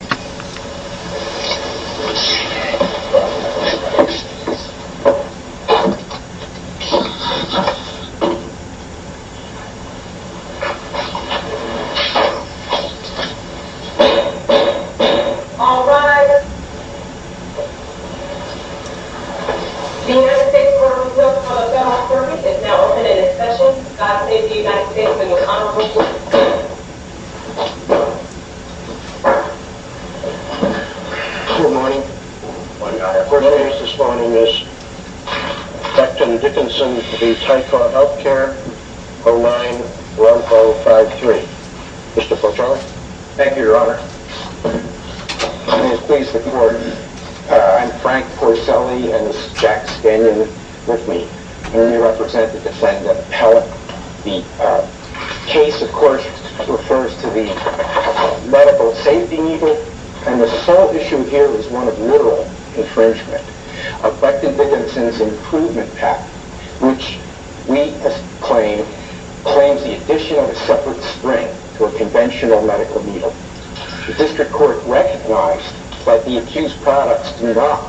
The United States Department of Health and Welfare Office is now open for discussion. The United States Department of Health and Welfare Office is now open for discussion. The case, of course, refers to the medical safety needle, and the sole issue here is one of literal infringement of Becton Dickinson's Improvement Act, which we claim claims the addition of a separate spring to a conventional medical needle. The District Court recognized that the accused products do not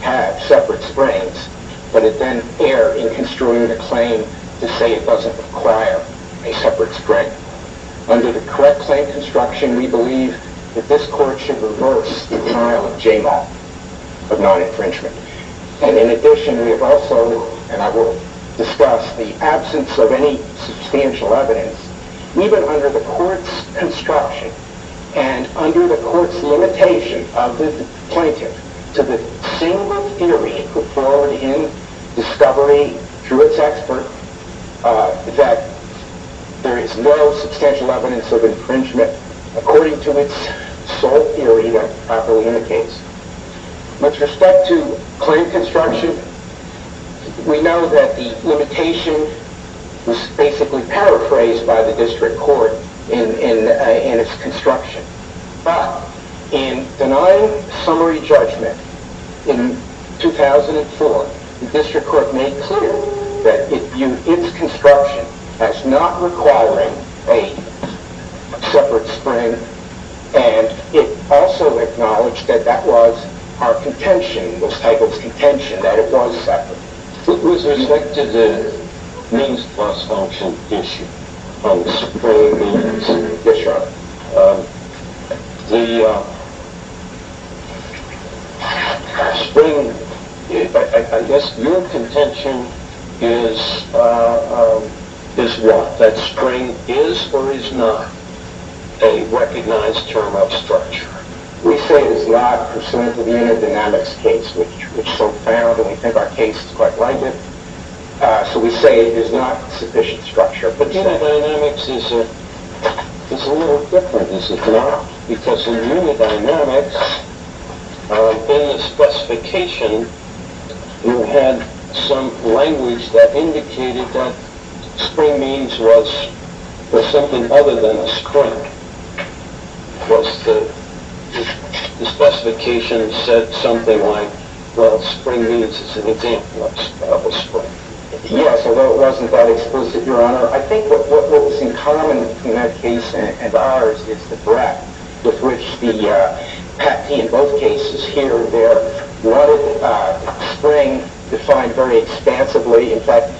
have separate springs, but it then erred in construing the claim to say it doesn't require a separate spring. Under the correct claim construction, we believe that this Court should reverse the denial of JMOC, of non-infringement. In addition, we have also, and I will discuss, the absence of any substantial evidence, even under the Court's construction, and under the Court's limitation of the plaintiff to the single theory put forward in discovery through its expert, that there is no substantial evidence of infringement according to its sole theory that properly indicates. With respect to claim construction, we know that the limitation was basically paraphrased by the District Court in its construction. But, in denying summary judgment in 2004, the District Court made clear that it viewed its construction as not requiring a separate spring, and it also acknowledged that that was our contention, the title's contention, that it was separate. With respect to the means plus function issue, the spring, I guess your contention is what? That spring is or is not a recognized term of structure? We say it is not pursuant to the unidynamics case, which so far we think our case is quite likely. So we say it is not sufficient structure. But unidynamics is a little different, is it not? Because in unidynamics, in the specification, you had some language that indicated that spring means was something other than a spring. The specification said something like, well, spring means is an example of a spring. Yes, although it wasn't that explicit, Your Honor. I think what was in common in that case and ours is the breadth with which the patentee in both cases here and there wanted spring defined very expansively. In fact,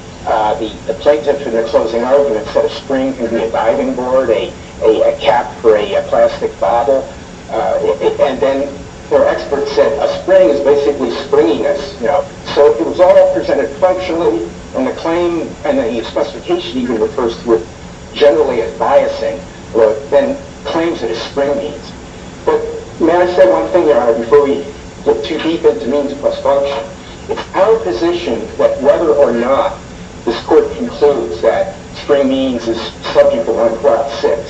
the plaintiffs in their closing argument said a spring can be a diving board, a cap for a plastic bottle. And then their expert said a spring is basically springiness. So if it was all presented functionally and the claim and the specification even refers to it generally as biasing, then claims it as spring means. But may I say one thing, Your Honor, before we get too deep into means plus function, it's our position that whether or not this Court concludes that spring means is subject to 1126,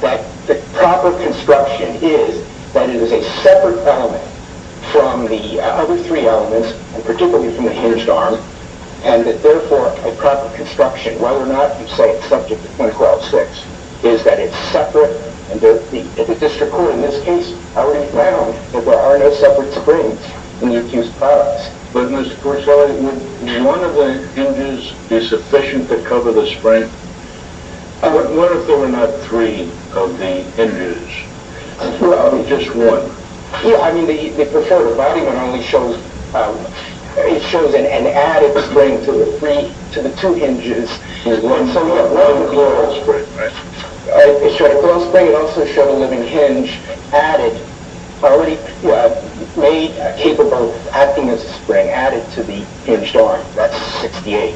that the proper construction is that it is a separate element from the other three elements, and particularly from the hinged arm, and that therefore a proper construction, whether or not you say it's subject to 1126, is that it's separate. And the district court in this case already found that there are no separate springs in the accused class. But Mr. Courtside, would one of the hinges be sufficient to cover the spring? What if there were not three of the hinges, just one? Yeah, I mean, the preferred body one only shows, it shows an added spring to the three, to the two hinges. So we have one closed spring. It showed a closed spring. It also showed a living hinge added, already made capable of acting as a spring, added to the hinged arm. That's 68.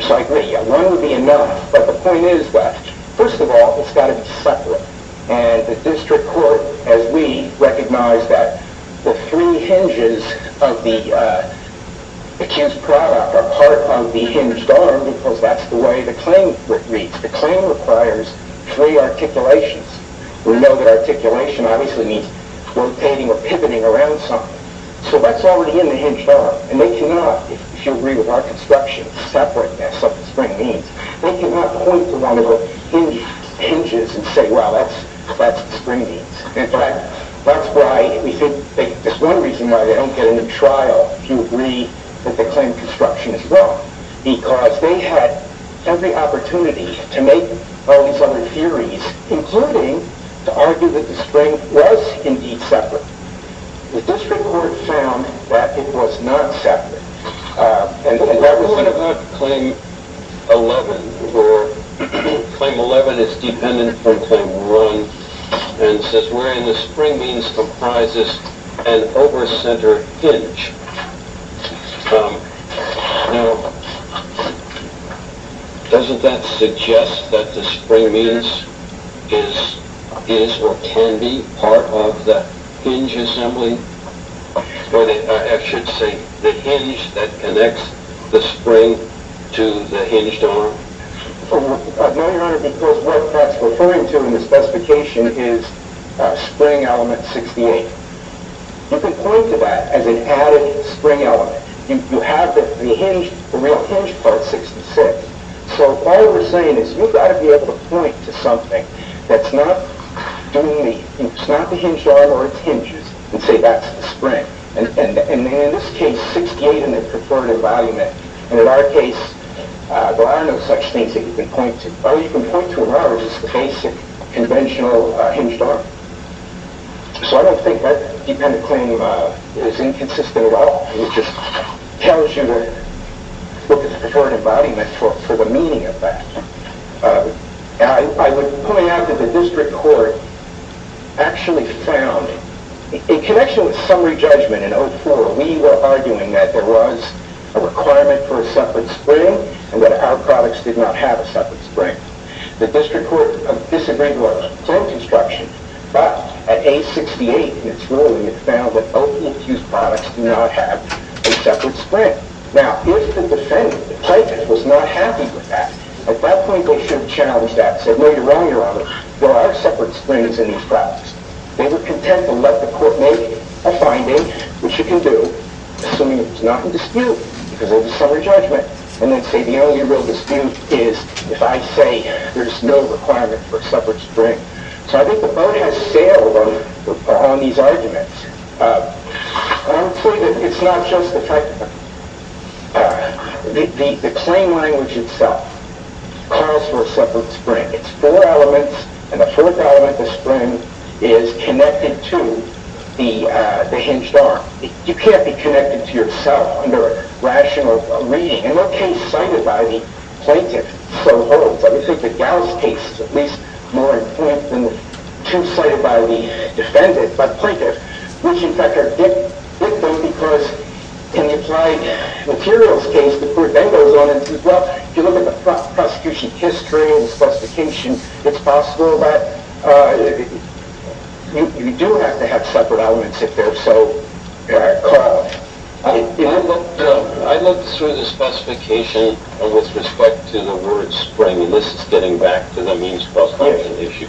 So I agree, one would be enough. But the point is that, first of all, it's got to be separate. And the district court, as we recognize that the three hinges of the accused product are part of the hinged arm, because that's the way the claim reads. The claim requires three articulations. We know that articulation obviously means rotating or pivoting around something. So that's already in the hinged arm. And they cannot, if you agree with our construction, separate that's what the spring means. They cannot point to one of the hinges and say, well, that's the spring means. In fact, that's why we think there's one reason why they don't get into trial, if you agree that the claim of construction is wrong. Because they had every opportunity to make all these other theories, including to argue that the spring was indeed separate. The district court found that it was not separate. What about claim 11, where claim 11 is dependent from claim 1 and says, the spring means comprises an over-centered hinge. Now, doesn't that suggest that the spring means is or can be part of the hinge assembly? Or I should say, the hinge that connects the spring to the hinged arm. No, Your Honor, because what that's referring to in the specification is spring element 68. You can point to that as an added spring element. You have the real hinged part 66. So all we're saying is you've got to be able to point to something that's not the hinged arm or its hinges and say that's the spring. In this case, 68 in the purported embodiment. In our case, there are no such things that you can point to. All you can point to is the basic conventional hinged arm. So I don't think that dependent claim is inconsistent at all. It just tells you to look at the purported embodiment for the meaning of that. I would point out that the district court actually found, in connection with summary judgment in 04, we were arguing that there was a requirement for a separate spring and that our products did not have a separate spring. The district court disagreed with our claim construction, but at age 68 in its ruling, it found that opiate-infused products do not have a separate spring. Now, if the defendant, the plaintiff, was not happy with that, at that point they should have challenged that and said, Your Honor, there are separate springs in these products. They were content to let the court make a finding, which you can do, assuming it was not in dispute because of the summary judgment, and then say the only real dispute is if I say there's no requirement for a separate spring. So I think the boat has sailed on these arguments. I would say that it's not just the fact that the claim language itself calls for a separate spring. It's four elements, and the fourth element, the spring, is connected to the hinged arm. You can't be connected to yourself under rational reading. In what case cited by the plaintiff so holds? I would think the Gauss case is at least more important than the two cited by the defendant. By the plaintiff, which in fact are different because in the applied materials case, the court then goes on and says, Well, if you look at the prosecution history and the specification, it's possible that you do have to have separate elements if they're so caught. I looked through the specification with respect to the word spring, and this is getting back to the means of prosecution issue.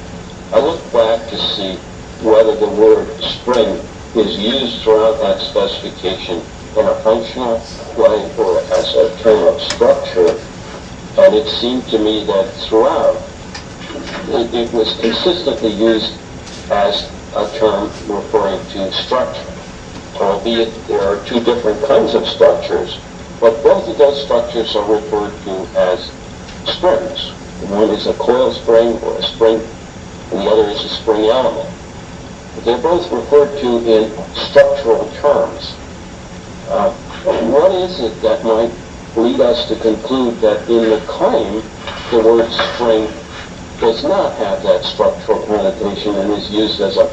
I look back to see whether the word spring is used throughout that specification in a functional way or as a term of structure, and it seemed to me that throughout, it was consistently used as a term referring to structure, albeit there are two different kinds of structures, but both of those structures are referred to as springs. One is a coil spring or a spring, and the other is a spring element. They're both referred to in structural terms. What is it that might lead us to conclude that in the claim, the word spring does not have that structural connotation and is used as a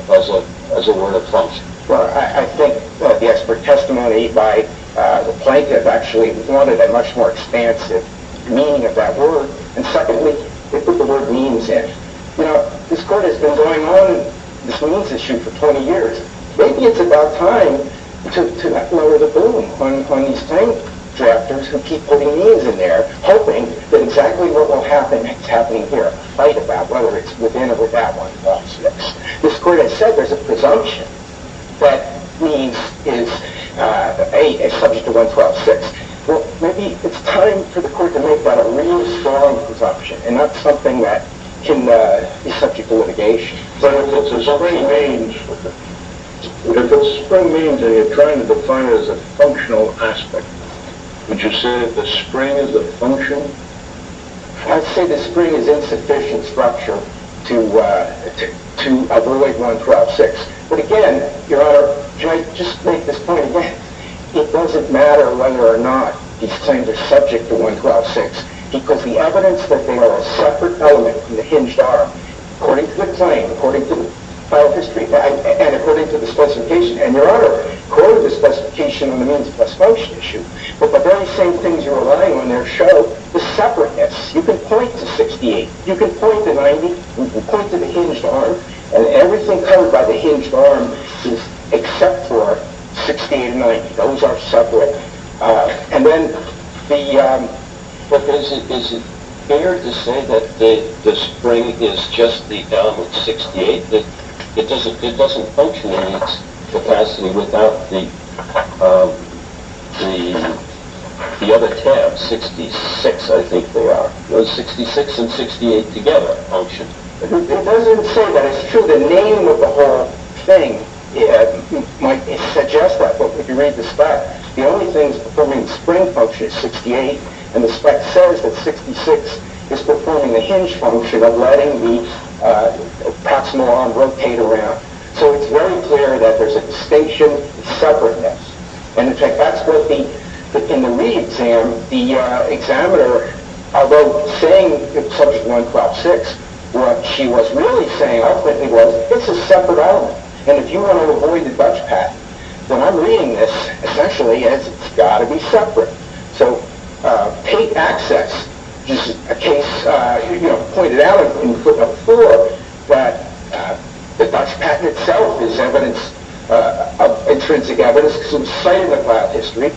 word of function? Well, I think that the expert testimony by the plaintiff actually wanted a much more expansive meaning of that word and secondly, they put the word means in. This court has been going on this means issue for 20 years. Maybe it's about time to not lower the boom on these claim directors who keep putting means in there hoping that exactly what will happen is happening here, a fight about whether it's within or without 1126. This court has said there's a presumption that means is subject to 1126. Well, maybe it's time for the court to make that a real strong presumption and not something that can be subject to litigation. But if the spring means that you're trying to define as a functional aspect, would you say the spring is a function? I'd say the spring is insufficient structure to avoid 1126, but again, Your Honor, can I just make this point again? It doesn't matter whether or not these claims are subject to 1126 because the evidence that they are a separate element from the hinged arm, according to the claim, according to the file of history and according to the specification, and Your Honor, according to the specification on the means plus function issue, that the very same things you're relying on there show the separateness. You can point to 68, you can point to 90, you can point to the hinged arm and everything covered by the hinged arm is except for 68 and 90. Those are separate. But is it fair to say that the spring is just the element 68? It doesn't function in its capacity without the other tab, 66 I think they are. Those 66 and 68 together function. It doesn't say that it's true. The name of the whole thing might suggest that, but if you read the spec, the only thing that's performing the spring function is 68 and the spec says that 66 is performing the hinged function of letting the proximal arm rotate around. So it's very clear that there's a distinction of separateness. And in fact, that's what the, in the re-exam, the examiner, although saying in Subject 1, Crop 6, what she was really saying, I think, was it's a separate element. And if you want to avoid the dutch patent, then I'm reading this essentially as it's got to be separate. So Tate Access is a case, you know, pointed out in footnote 4 that the dutch patent itself is evidence of intrinsic evidence because it was cited in the class history.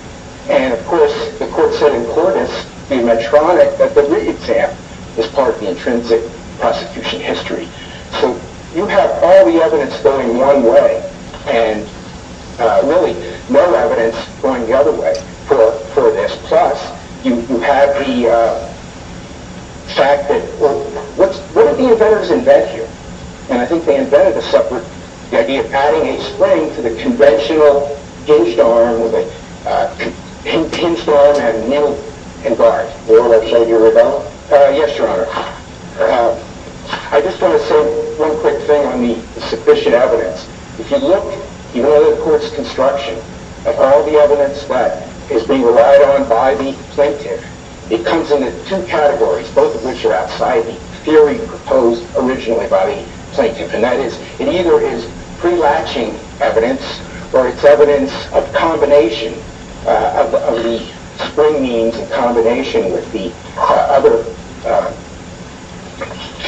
And of course, the court said in Cortis, the Medtronic, that the re-exam is part of the intrinsic prosecution history. So you have all the evidence going one way and really no evidence going the other way. For this class, you have the fact that, well, what did the inventors invent here? And I think they invented a separate, the idea of adding a spring to the conventional hinged arm with a hinged arm and nil and barge. Your Honor, shall I do a rebuttal? Yes, Your Honor. I just want to say one quick thing on the sufficient evidence. If you look, even in the court's construction, at all the evidence that is being relied on by the plaintiff, it comes in two categories, both of which are outside the theory proposed originally by the plaintiff. And that is, it either is pre-latching evidence or it's evidence of combination of the spring means in combination with the other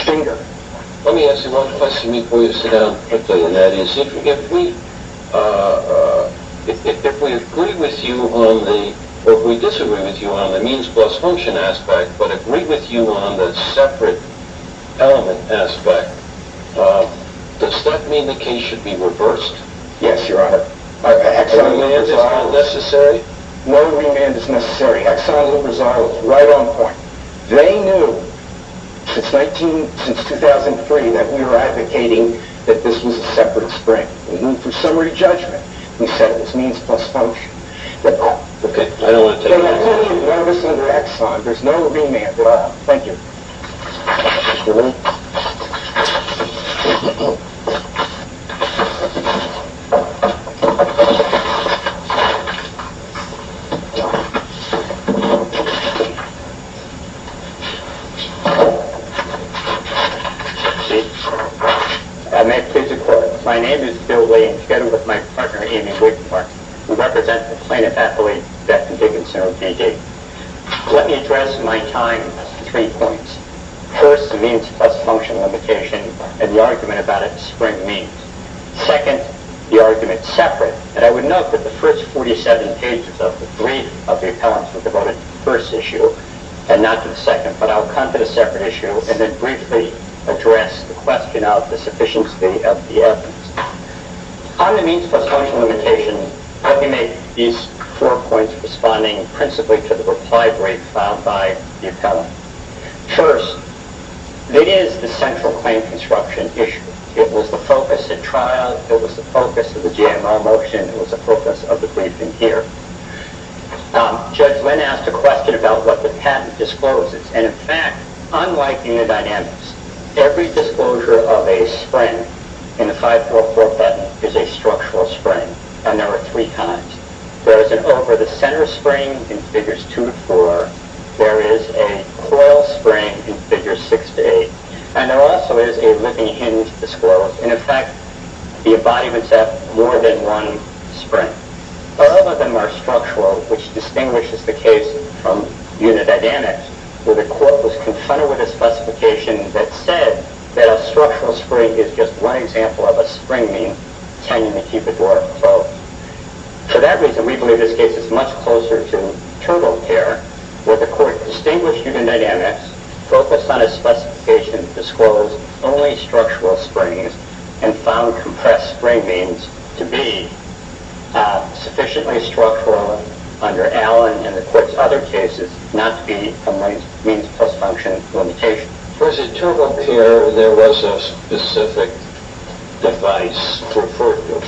finger. Let me ask you one question before you sit down quickly. And that is, if we agree with you on the, or if we disagree with you on the means plus function aspect, but agree with you on the separate element aspect, does that mean the case should be reversed? Yes, Your Honor. Remand is not necessary? No remand is necessary. Exxon-Lubrizio is right on point. They knew since 2003 that we were advocating that this was a separate spring. For summary judgment, we said it was means plus function. Okay, I don't want to take that. There's no remand. Thank you. Mr. Lee? Yes, Your Honor. May I please record? My name is Bill Lee, together with my partner Amy Whitmore, who represents the plaintiff's affiliate, Death and Dignity Center of D.D. Let me address my time with three points. First, the means plus function limitation and the argument about its spring means. Second, the argument separate, and I would note that the first 47 pages of the brief of the appellants were devoted to the first issue and not to the second, but I'll come to the separate issue and then briefly address the question of the sufficiency of the evidence. On the means plus function limitation, I can make these four points responding principally to the reply break filed by the appellant. First, it is the central claim construction issue. It was the focus at trial. It was the focus of the GMO motion. It was the focus of the briefing here. Judge Lynn asked a question about what the patent discloses, and in fact, unlike in the dynamics, every disclosure of a spring in the 5447 is a structural spring, and there are three kinds. There is an over-the-center spring in Figures 2 to 4. There is a coil spring in Figures 6 to 8, and there also is a living hinge disclosure, and in fact, the embodiments have more than one spring. All of them are structural, which distinguishes the case from unidynamics, where the court was confronted with a specification that said that a structural spring is just one example of a spring meaning tending to keep a door closed. For that reason, we believe this case is much closer to internal care, where the court distinguished unidynamics, focused on a specification that disclosed only structural springs and found compressed spring means to be sufficiently structural under Allen and the court's other cases not to be a means-plus-function limitation. For internal care, there was a specific device for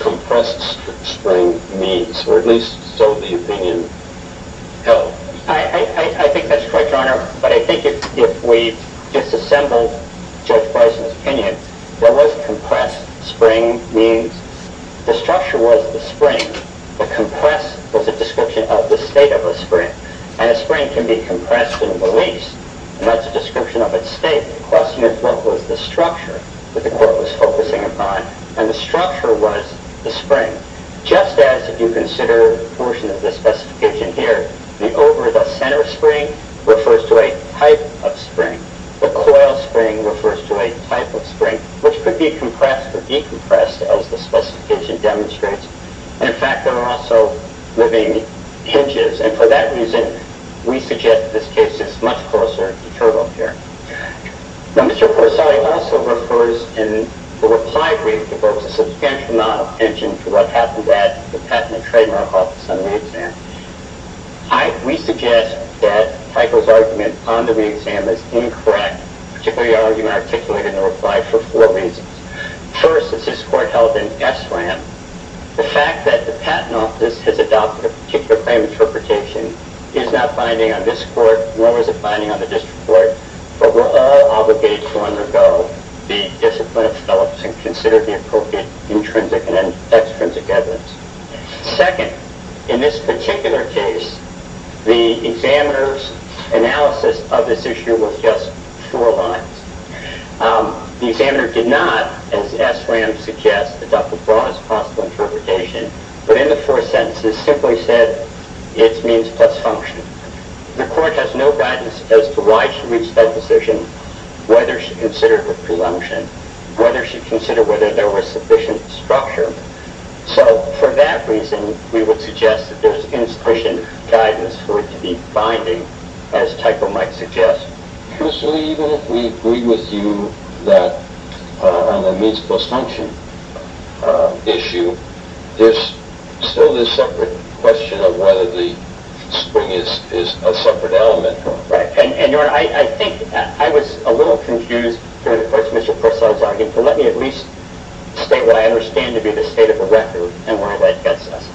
compressed spring means, or at least so the opinion held. I think that's correct, Your Honor, but I think if we disassembled Judge Bison's opinion, there was compressed spring means the structure was the spring. The compressed was a description of the state of a spring, and a spring can be compressed and released, and that's a description of its state. The question is what was the structure that the court was focusing upon, and the structure was the spring. Just as if you consider the portion of the specification here, the over-the-center spring refers to a type of spring. The coil spring refers to a type of spring, which could be compressed or decompressed, as the specification demonstrates. And, in fact, there are also living hinges, and for that reason we suggest this case is much closer to total care. Now, Mr. Corsari also refers in the reply brief that there was a substantial amount of attention to what happened at the Patent and Trademark Office on the exam. We suggest that Tycho's argument on the exam is incorrect, particularly the argument articulated in the reply for four reasons. First, as his court held in SRAM, the fact that the Patent Office has adopted a particular claim interpretation is not binding on this court, nor is it binding on the district court, but we're all obligated to undergo the discipline and consider the appropriate intrinsic and extrinsic evidence. Second, in this particular case, the examiner's analysis of this issue was just four lines. The examiner did not, as SRAM suggests, adopt the broadest possible interpretation, but in the four sentences simply said, it means plus function. The court has no guidance as to why she reached that decision, whether she considered the prelumption, whether she considered whether there was sufficient structure. So for that reason, we would suggest that there's insufficient guidance for it to be binding, as Tycho might suggest. MR. CORSARI Even if we agree with you that on the means plus function issue, there's still this separate question of whether the spring is a separate element. And I think I was a little confused with Mr. Corsari's argument, but let me at least state what I understand to be the state of the record and why that gets us.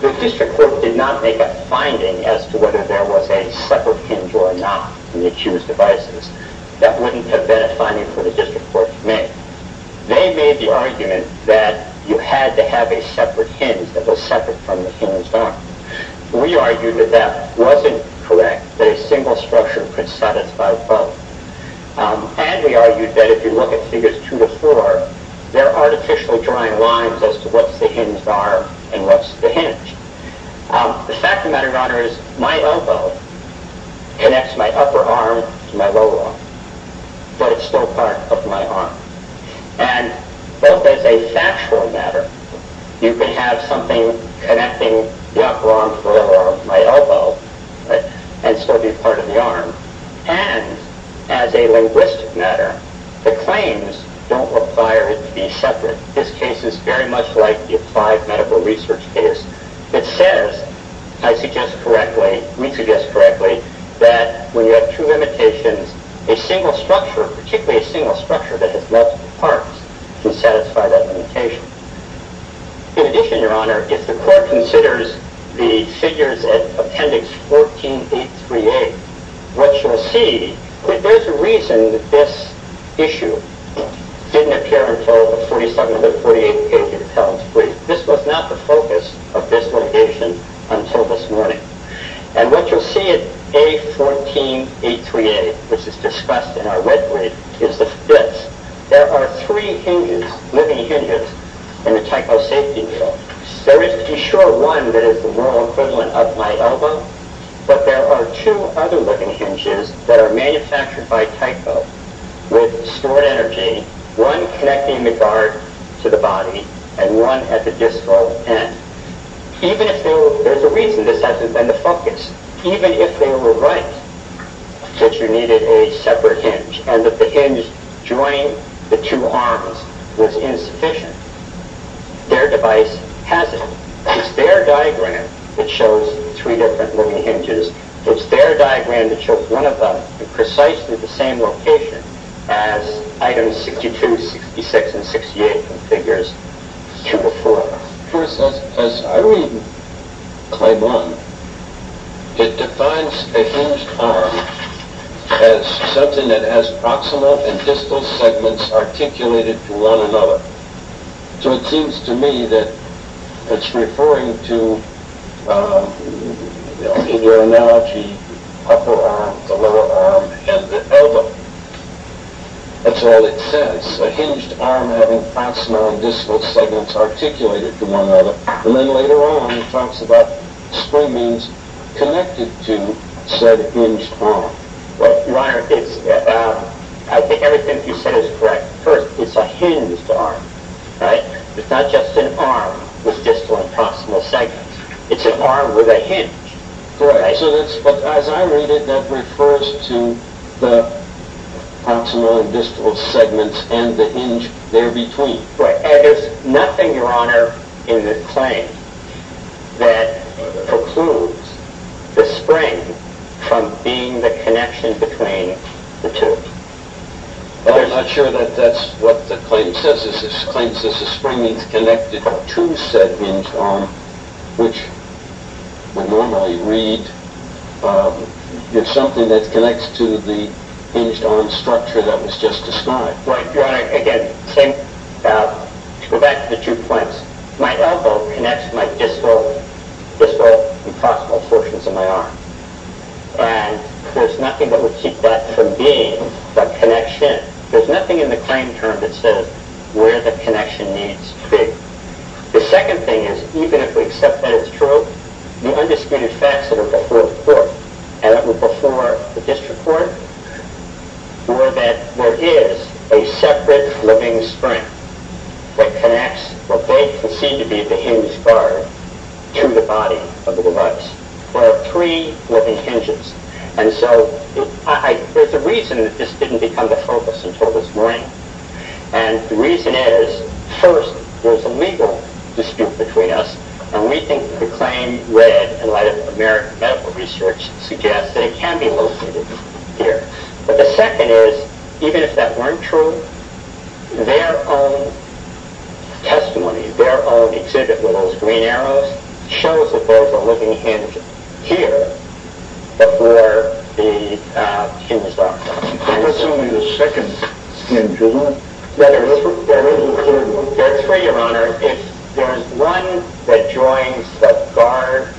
The district court did not make a finding as to whether there was a separate hinge or not in the accused devices. That wouldn't have been a finding for the district court to make. They made the argument that you had to have a separate hinge that was separate from the hinged arm. We argued that that wasn't correct, that a single structure could satisfy both. And we argued that if you look at figures two to four, there are artificial drawing lines as to what's the hinged arm and what's the hinge. The fact of the matter, Your Honor, is my elbow connects my upper arm to my lower arm, but it's still part of my arm. And both as a factual matter, you can have something connecting the upper arm to my elbow and still be part of the arm. And as a linguistic matter, the claims don't require it to be separate. This case is very much like the applied medical research case. It says, I suggest correctly, we suggest correctly, that when you have two limitations, a single structure, particularly a single structure that has multiple parts, can satisfy that limitation. In addition, Your Honor, if the court considers the figures at Appendix 14.838, what you'll see, there's a reason that this issue didn't appear until 47 or 48 pages. This was not the focus of this litigation until this morning. And what you'll see at A. 14.838, which is discussed in our red brief, is this. There are three hinges, living hinges, in the Tycho safety wheel. There is, to be sure, one that is the moral equivalent of my elbow, but there are two other living hinges that are manufactured by Tycho with stored energy, one connecting the guard to the body, and one at the distal end. There's a reason this hasn't been the focus. Even if they were right, that you needed a separate hinge, and that the hinge joining the two arms was insufficient, their device has it. It's their diagram that shows three different living hinges. It's their diagram that shows one of them in precisely the same location as Items 62, 66, and 68 from Figures 204. First, as I read Claiborne, it defines a hinged arm as something that has proximal and distal segments articulated to one another. So it seems to me that it's referring to, in your analogy, upper arm, the lower arm, and the elbow. That's all it says. A hinged arm having proximal and distal segments articulated to one another. And then later on, it talks about springings connected to said hinged arm. Well, Your Honor, I think everything you said is correct. First, it's a hinged arm, right? It's not just an arm with distal and proximal segments. It's an arm with a hinge. Correct. But as I read it, that refers to the proximal and distal segments and the hinge there between. Right. And there's nothing, Your Honor, in the claim that precludes the spring from being the connection between the two. I'm not sure that that's what the claim says. The claim says the springing is connected to said hinged arm, which when normally read, it's something that connects to the hinged arm structure that was just described. Your Honor, again, to go back to the two points, my elbow connects my distal and proximal portions of my arm, and there's nothing that would keep that from being the connection. There's nothing in the claim term that says where the connection needs to be. The second thing is even if we accept that as true, and it was before the district court, or that there is a separate living spring that connects what may seem to be the hinged arm to the body of the device, there are three living hinges. And so there's a reason that this didn't become the focus until this morning. And the reason is, first, there's a legal dispute between us, and we think the claim, read in light of medical research, suggests that it can be located here. But the second is, even if that weren't true, their own testimony, their own exhibit with those green arrows, shows that those are living hinges here before the hinged arm. That's only the second hinge, is it not? There are three, Your Honor. If there is one that joins the guard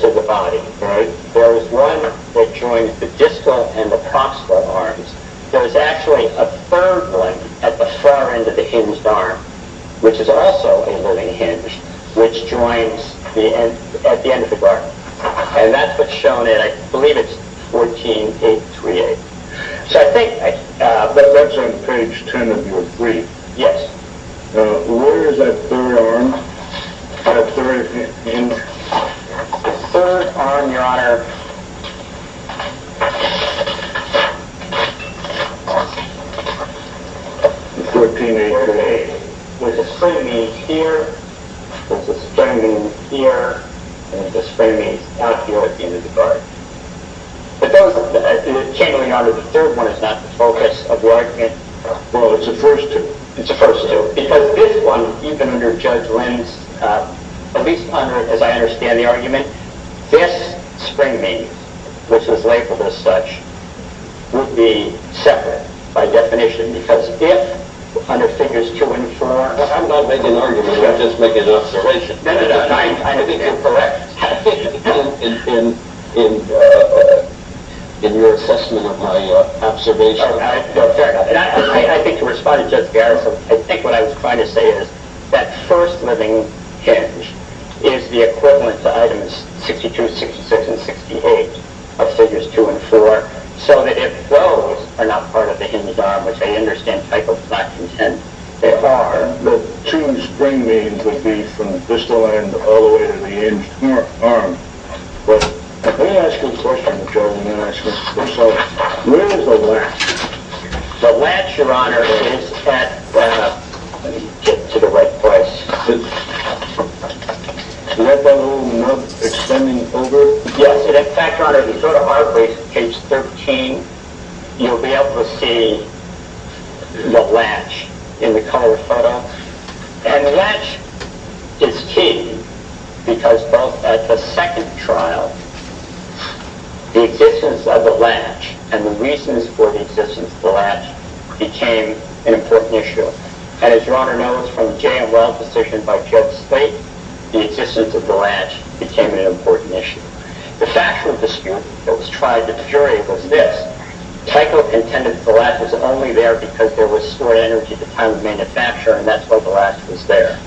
to the body, if there is one that joins the distal and the proximal arms, there is actually a third one at the far end of the hinged arm, which is also a living hinge, which joins at the end of the guard. And that's what's shown in, I believe it's 14, page 3A. So I think... That's on page 10 of your brief. Yes. Where is that third arm? That third hinge? The third arm, Your Honor... 14, page 3A. There's a spremi here, there's a spremi here, and there's a spremi out here at the end of the guard. If that was the channeling arm of the third one, is that the focus of the argument? Well, it's the first two. It's the first two. Because this one, even under Judge Lind's, at least under, as I understand the argument, this spremi, which is labeled as such, would be separate by definition, because if, under figures 2 and 4... I'm not making an argument, I'm just making an observation. I think you're correct in your assessment of my observation. I think to respond to Judge Garrison, I think what I was trying to say is that first living hinge is the equivalent to items 62, 66, and 68 of figures 2 and 4, so that if those are not part of the hinged arm, which I understand, Michael, is not content, they are... The two spremi would be from the distal end Let me ask you a question, Joe. Where is the latch? The latch, Your Honor, is at... Let me get it to the right place. Yes, in fact, Your Honor, if you go to article page 13, you'll be able to see the latch in the color photo. And the latch is key, because both at the second trial, the existence of the latch and the reasons for the existence of the latch became an important issue. And as Your Honor knows from the J.L. Weld decision by Judge Slate, the existence of the latch became an important issue. The factual dispute that was tried in the jury was this. Tyco contended that the latch was only there because there was stored energy at the time of manufacturing, and that's why the latch was there.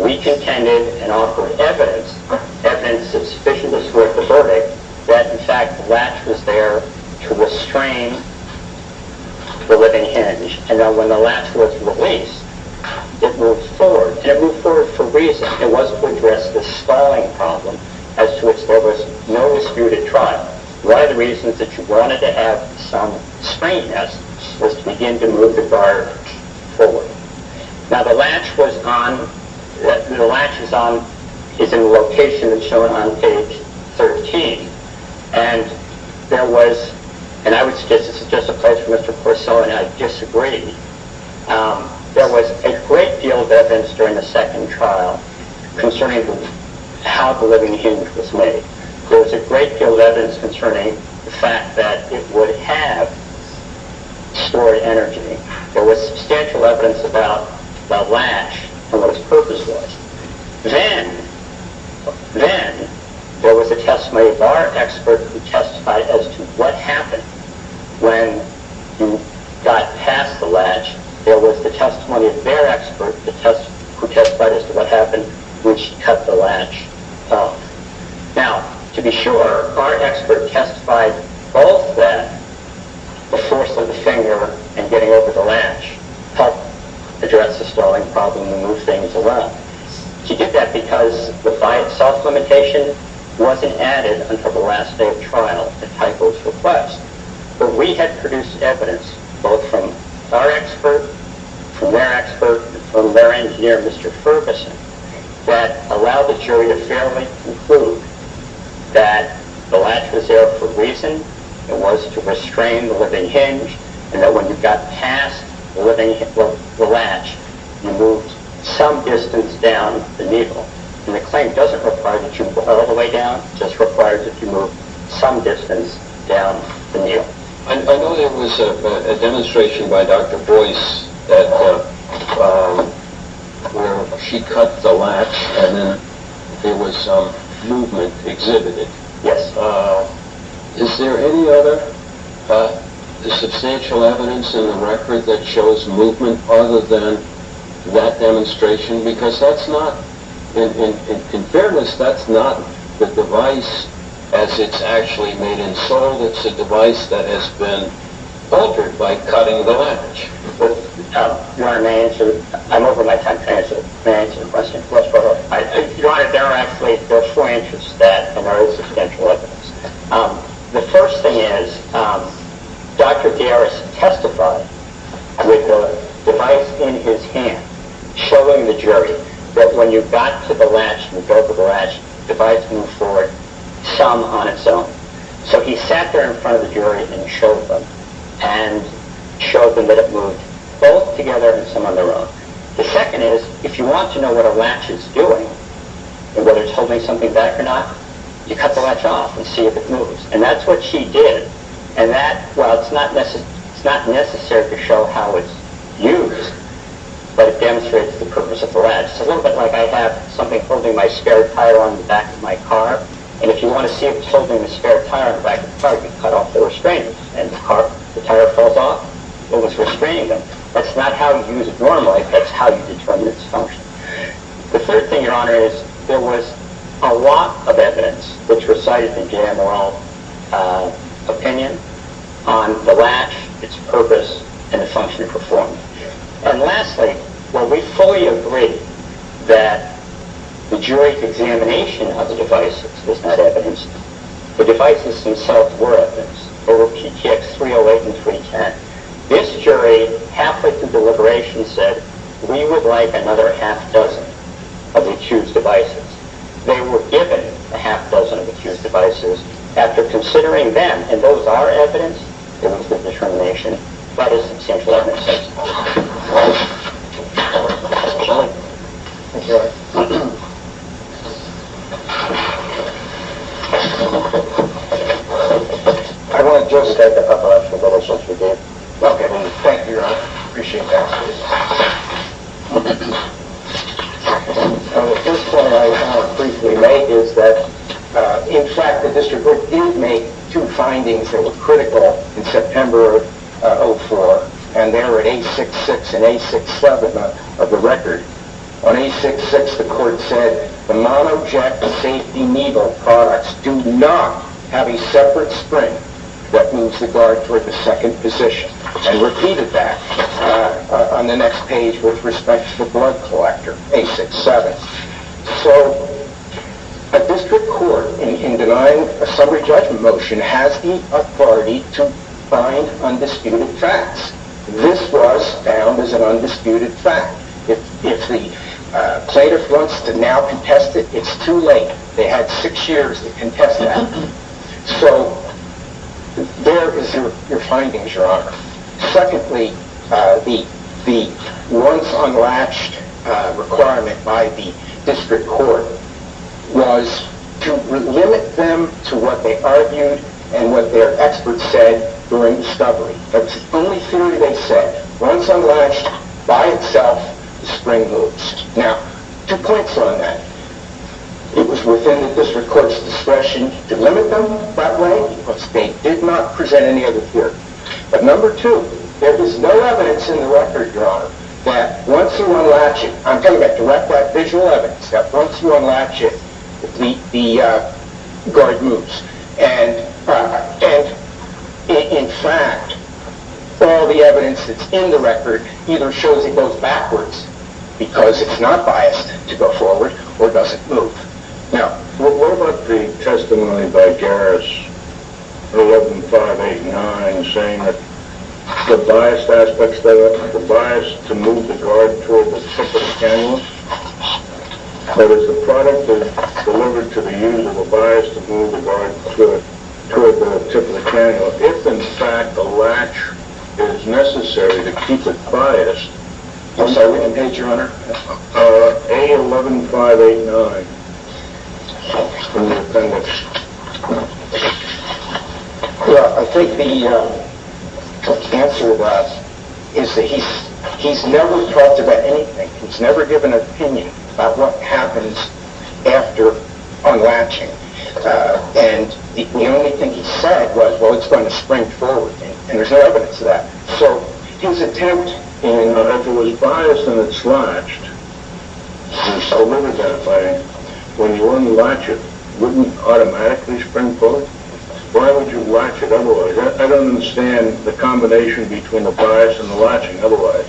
We contended and offered evidence, evidence that's sufficient to square the verdict, that in fact the latch was there to restrain the living hinge. And now when the latch was released, it moved forward. And it moved forward for a reason. It was to address the stalling problem as to which there was no disputed trial. One of the reasons that you wanted to have some strangeness was to begin to move the guard forward. Now the latch was on... The latch is in the location that's shown on page 13. And there was... And I would suggest, this is just a question for Mr. Porcello, and I disagree. There was a great deal of evidence during the second trial concerning how the living hinge was made. There was a great deal of evidence concerning the fact that it would have stored energy. There was substantial evidence about the latch and what its purpose was. Then there was a testimony of our expert who testified as to what happened when you got past the latch. There was the testimony of their expert who testified as to what happened when she cut the latch off. Now, to be sure, our expert testified both that, the force of the finger and getting over the latch helped address the stalling problem and move things along. She did that because the VIAT soft limitation wasn't added until the last day of trial at Typo's request. But we had produced evidence, both from our expert, from their expert, from their engineer, Mr. Ferguson, that allowed the jury to fairly conclude that the latch was there for a reason. It was to restrain the living hinge and that when you got past the latch, you moved some distance down the needle. And the claim doesn't require that you go all the way down. It just requires that you move some distance down the needle. I know there was a demonstration by Dr. Boyce where she cut the latch and then there was movement exhibited. Yes. Is there any other substantial evidence in the record that shows movement other than that demonstration? Because that's not, in fairness, that's not the device as it's actually made and sold. It's a device that has been altered by cutting the latch. Your Honor, may I answer? I'm over my time to answer. May I answer the question? Your Honor, there are actually, there are four entries to that that are substantial evidence. The first thing is Dr. Garris testified with the device in his hand showing the jury that when you got to the latch and broke the latch, the device moved forward some on its own. So he sat there in front of the jury and showed them and showed them that it moved both together and some on their own. The second is, if you want to know what a latch is doing and whether it's holding something back or not, you cut the latch off and see if it moves. And that's what she did. And that, well, it's not necessary to show how it's used, but it demonstrates the purpose of the latch. It's a little bit like I have something holding my spare tire on the back of my car, and if you want to see if it's holding the spare tire on the back of the car, you cut off the restraining. And if the tire falls off, it was restraining them. That's not how you use it normally. That's how you determine its function. The third thing, Your Honor, is there was a lot of evidence which was cited in J.M. Rowell's opinion on the latch, its purpose, and the function it performed. And lastly, while we fully agree that the jury's examination of the devices was not evidence, the devices themselves were evidence. Over PTX 308 and 310, this jury, halfway through deliberation, said we would like another half-dozen of the accused devices. They were given a half-dozen of the accused devices after considering them, and those are evidence, evidence of determination by the substantial evidence. I want to just add a couple of observations again. Okay. Thank you, Your Honor. I appreciate that. The first point I want to briefly make is that, in fact, the district court did make two findings that were critical in September of 2004, and they were at A66 and A67 of the record. On A66, the court said, the monoject safety needle products do not have a separate spring that moves the guard toward the second position, and repeated that on the next page with respect to the blood collector, A67. So a district court, in denying a summary judgment motion, has the authority to find undisputed facts. This was found as an undisputed fact. If the plaintiff wants to now contest it, it's too late. They had six years to contest that. So there is your findings, Your Honor. Secondly, the once unlatched requirement by the district court was to limit them to what they argued and what their experts said during discovery. That's the only theory they said. Once unlatched, by itself, the spring moves. Now, two points on that. It was within the district court's discretion to limit them that way, but they did not present any other theory. But number two, there is no evidence in the record, Your Honor, that once you unlatch it, I'm talking about direct, visual evidence, that once you unlatch it, the guard moves. And in fact, all the evidence that's in the record either shows it goes backwards because it's not biased to go forward, or it doesn't move. Now, what about the testimony by Garris, 11589, saying that the biased aspects there, the bias to move the guard toward the tip of the cannula, that it's a product that's delivered to the use of a bias to move the guard toward the tip of the cannula. If, in fact, a latch is necessary to keep it biased, what's that written page, Your Honor? A11589. Yeah, I think the answer to that is that he's never talked about anything. He's never given an opinion about what happens after unlatching. And the only thing he said was, well, it's going to spring forward, and there's no evidence of that. So his attempt in— Now, if it was biased and it's latched, he still wouldn't identify it. When you unlatch it, wouldn't it automatically spring forward? Why would you latch it otherwise? I don't understand the combination between the bias and the latching otherwise.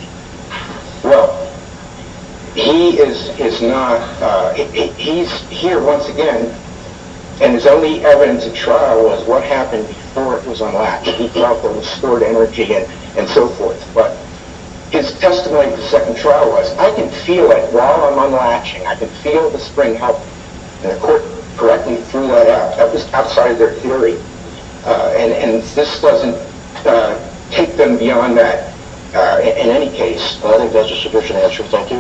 Well, he is not—he's here once again, and his only evidence at trial was what happened before it was unlatched. He talked about the stored energy and so forth, but his testimony at the second trial was, I can feel it while I'm unlatching. I can feel the spring help. And the court correctly threw that out. That was outside of their theory, and this doesn't take them beyond that in any case. Well, I think that's a sufficient answer. Thank you. Please be seated.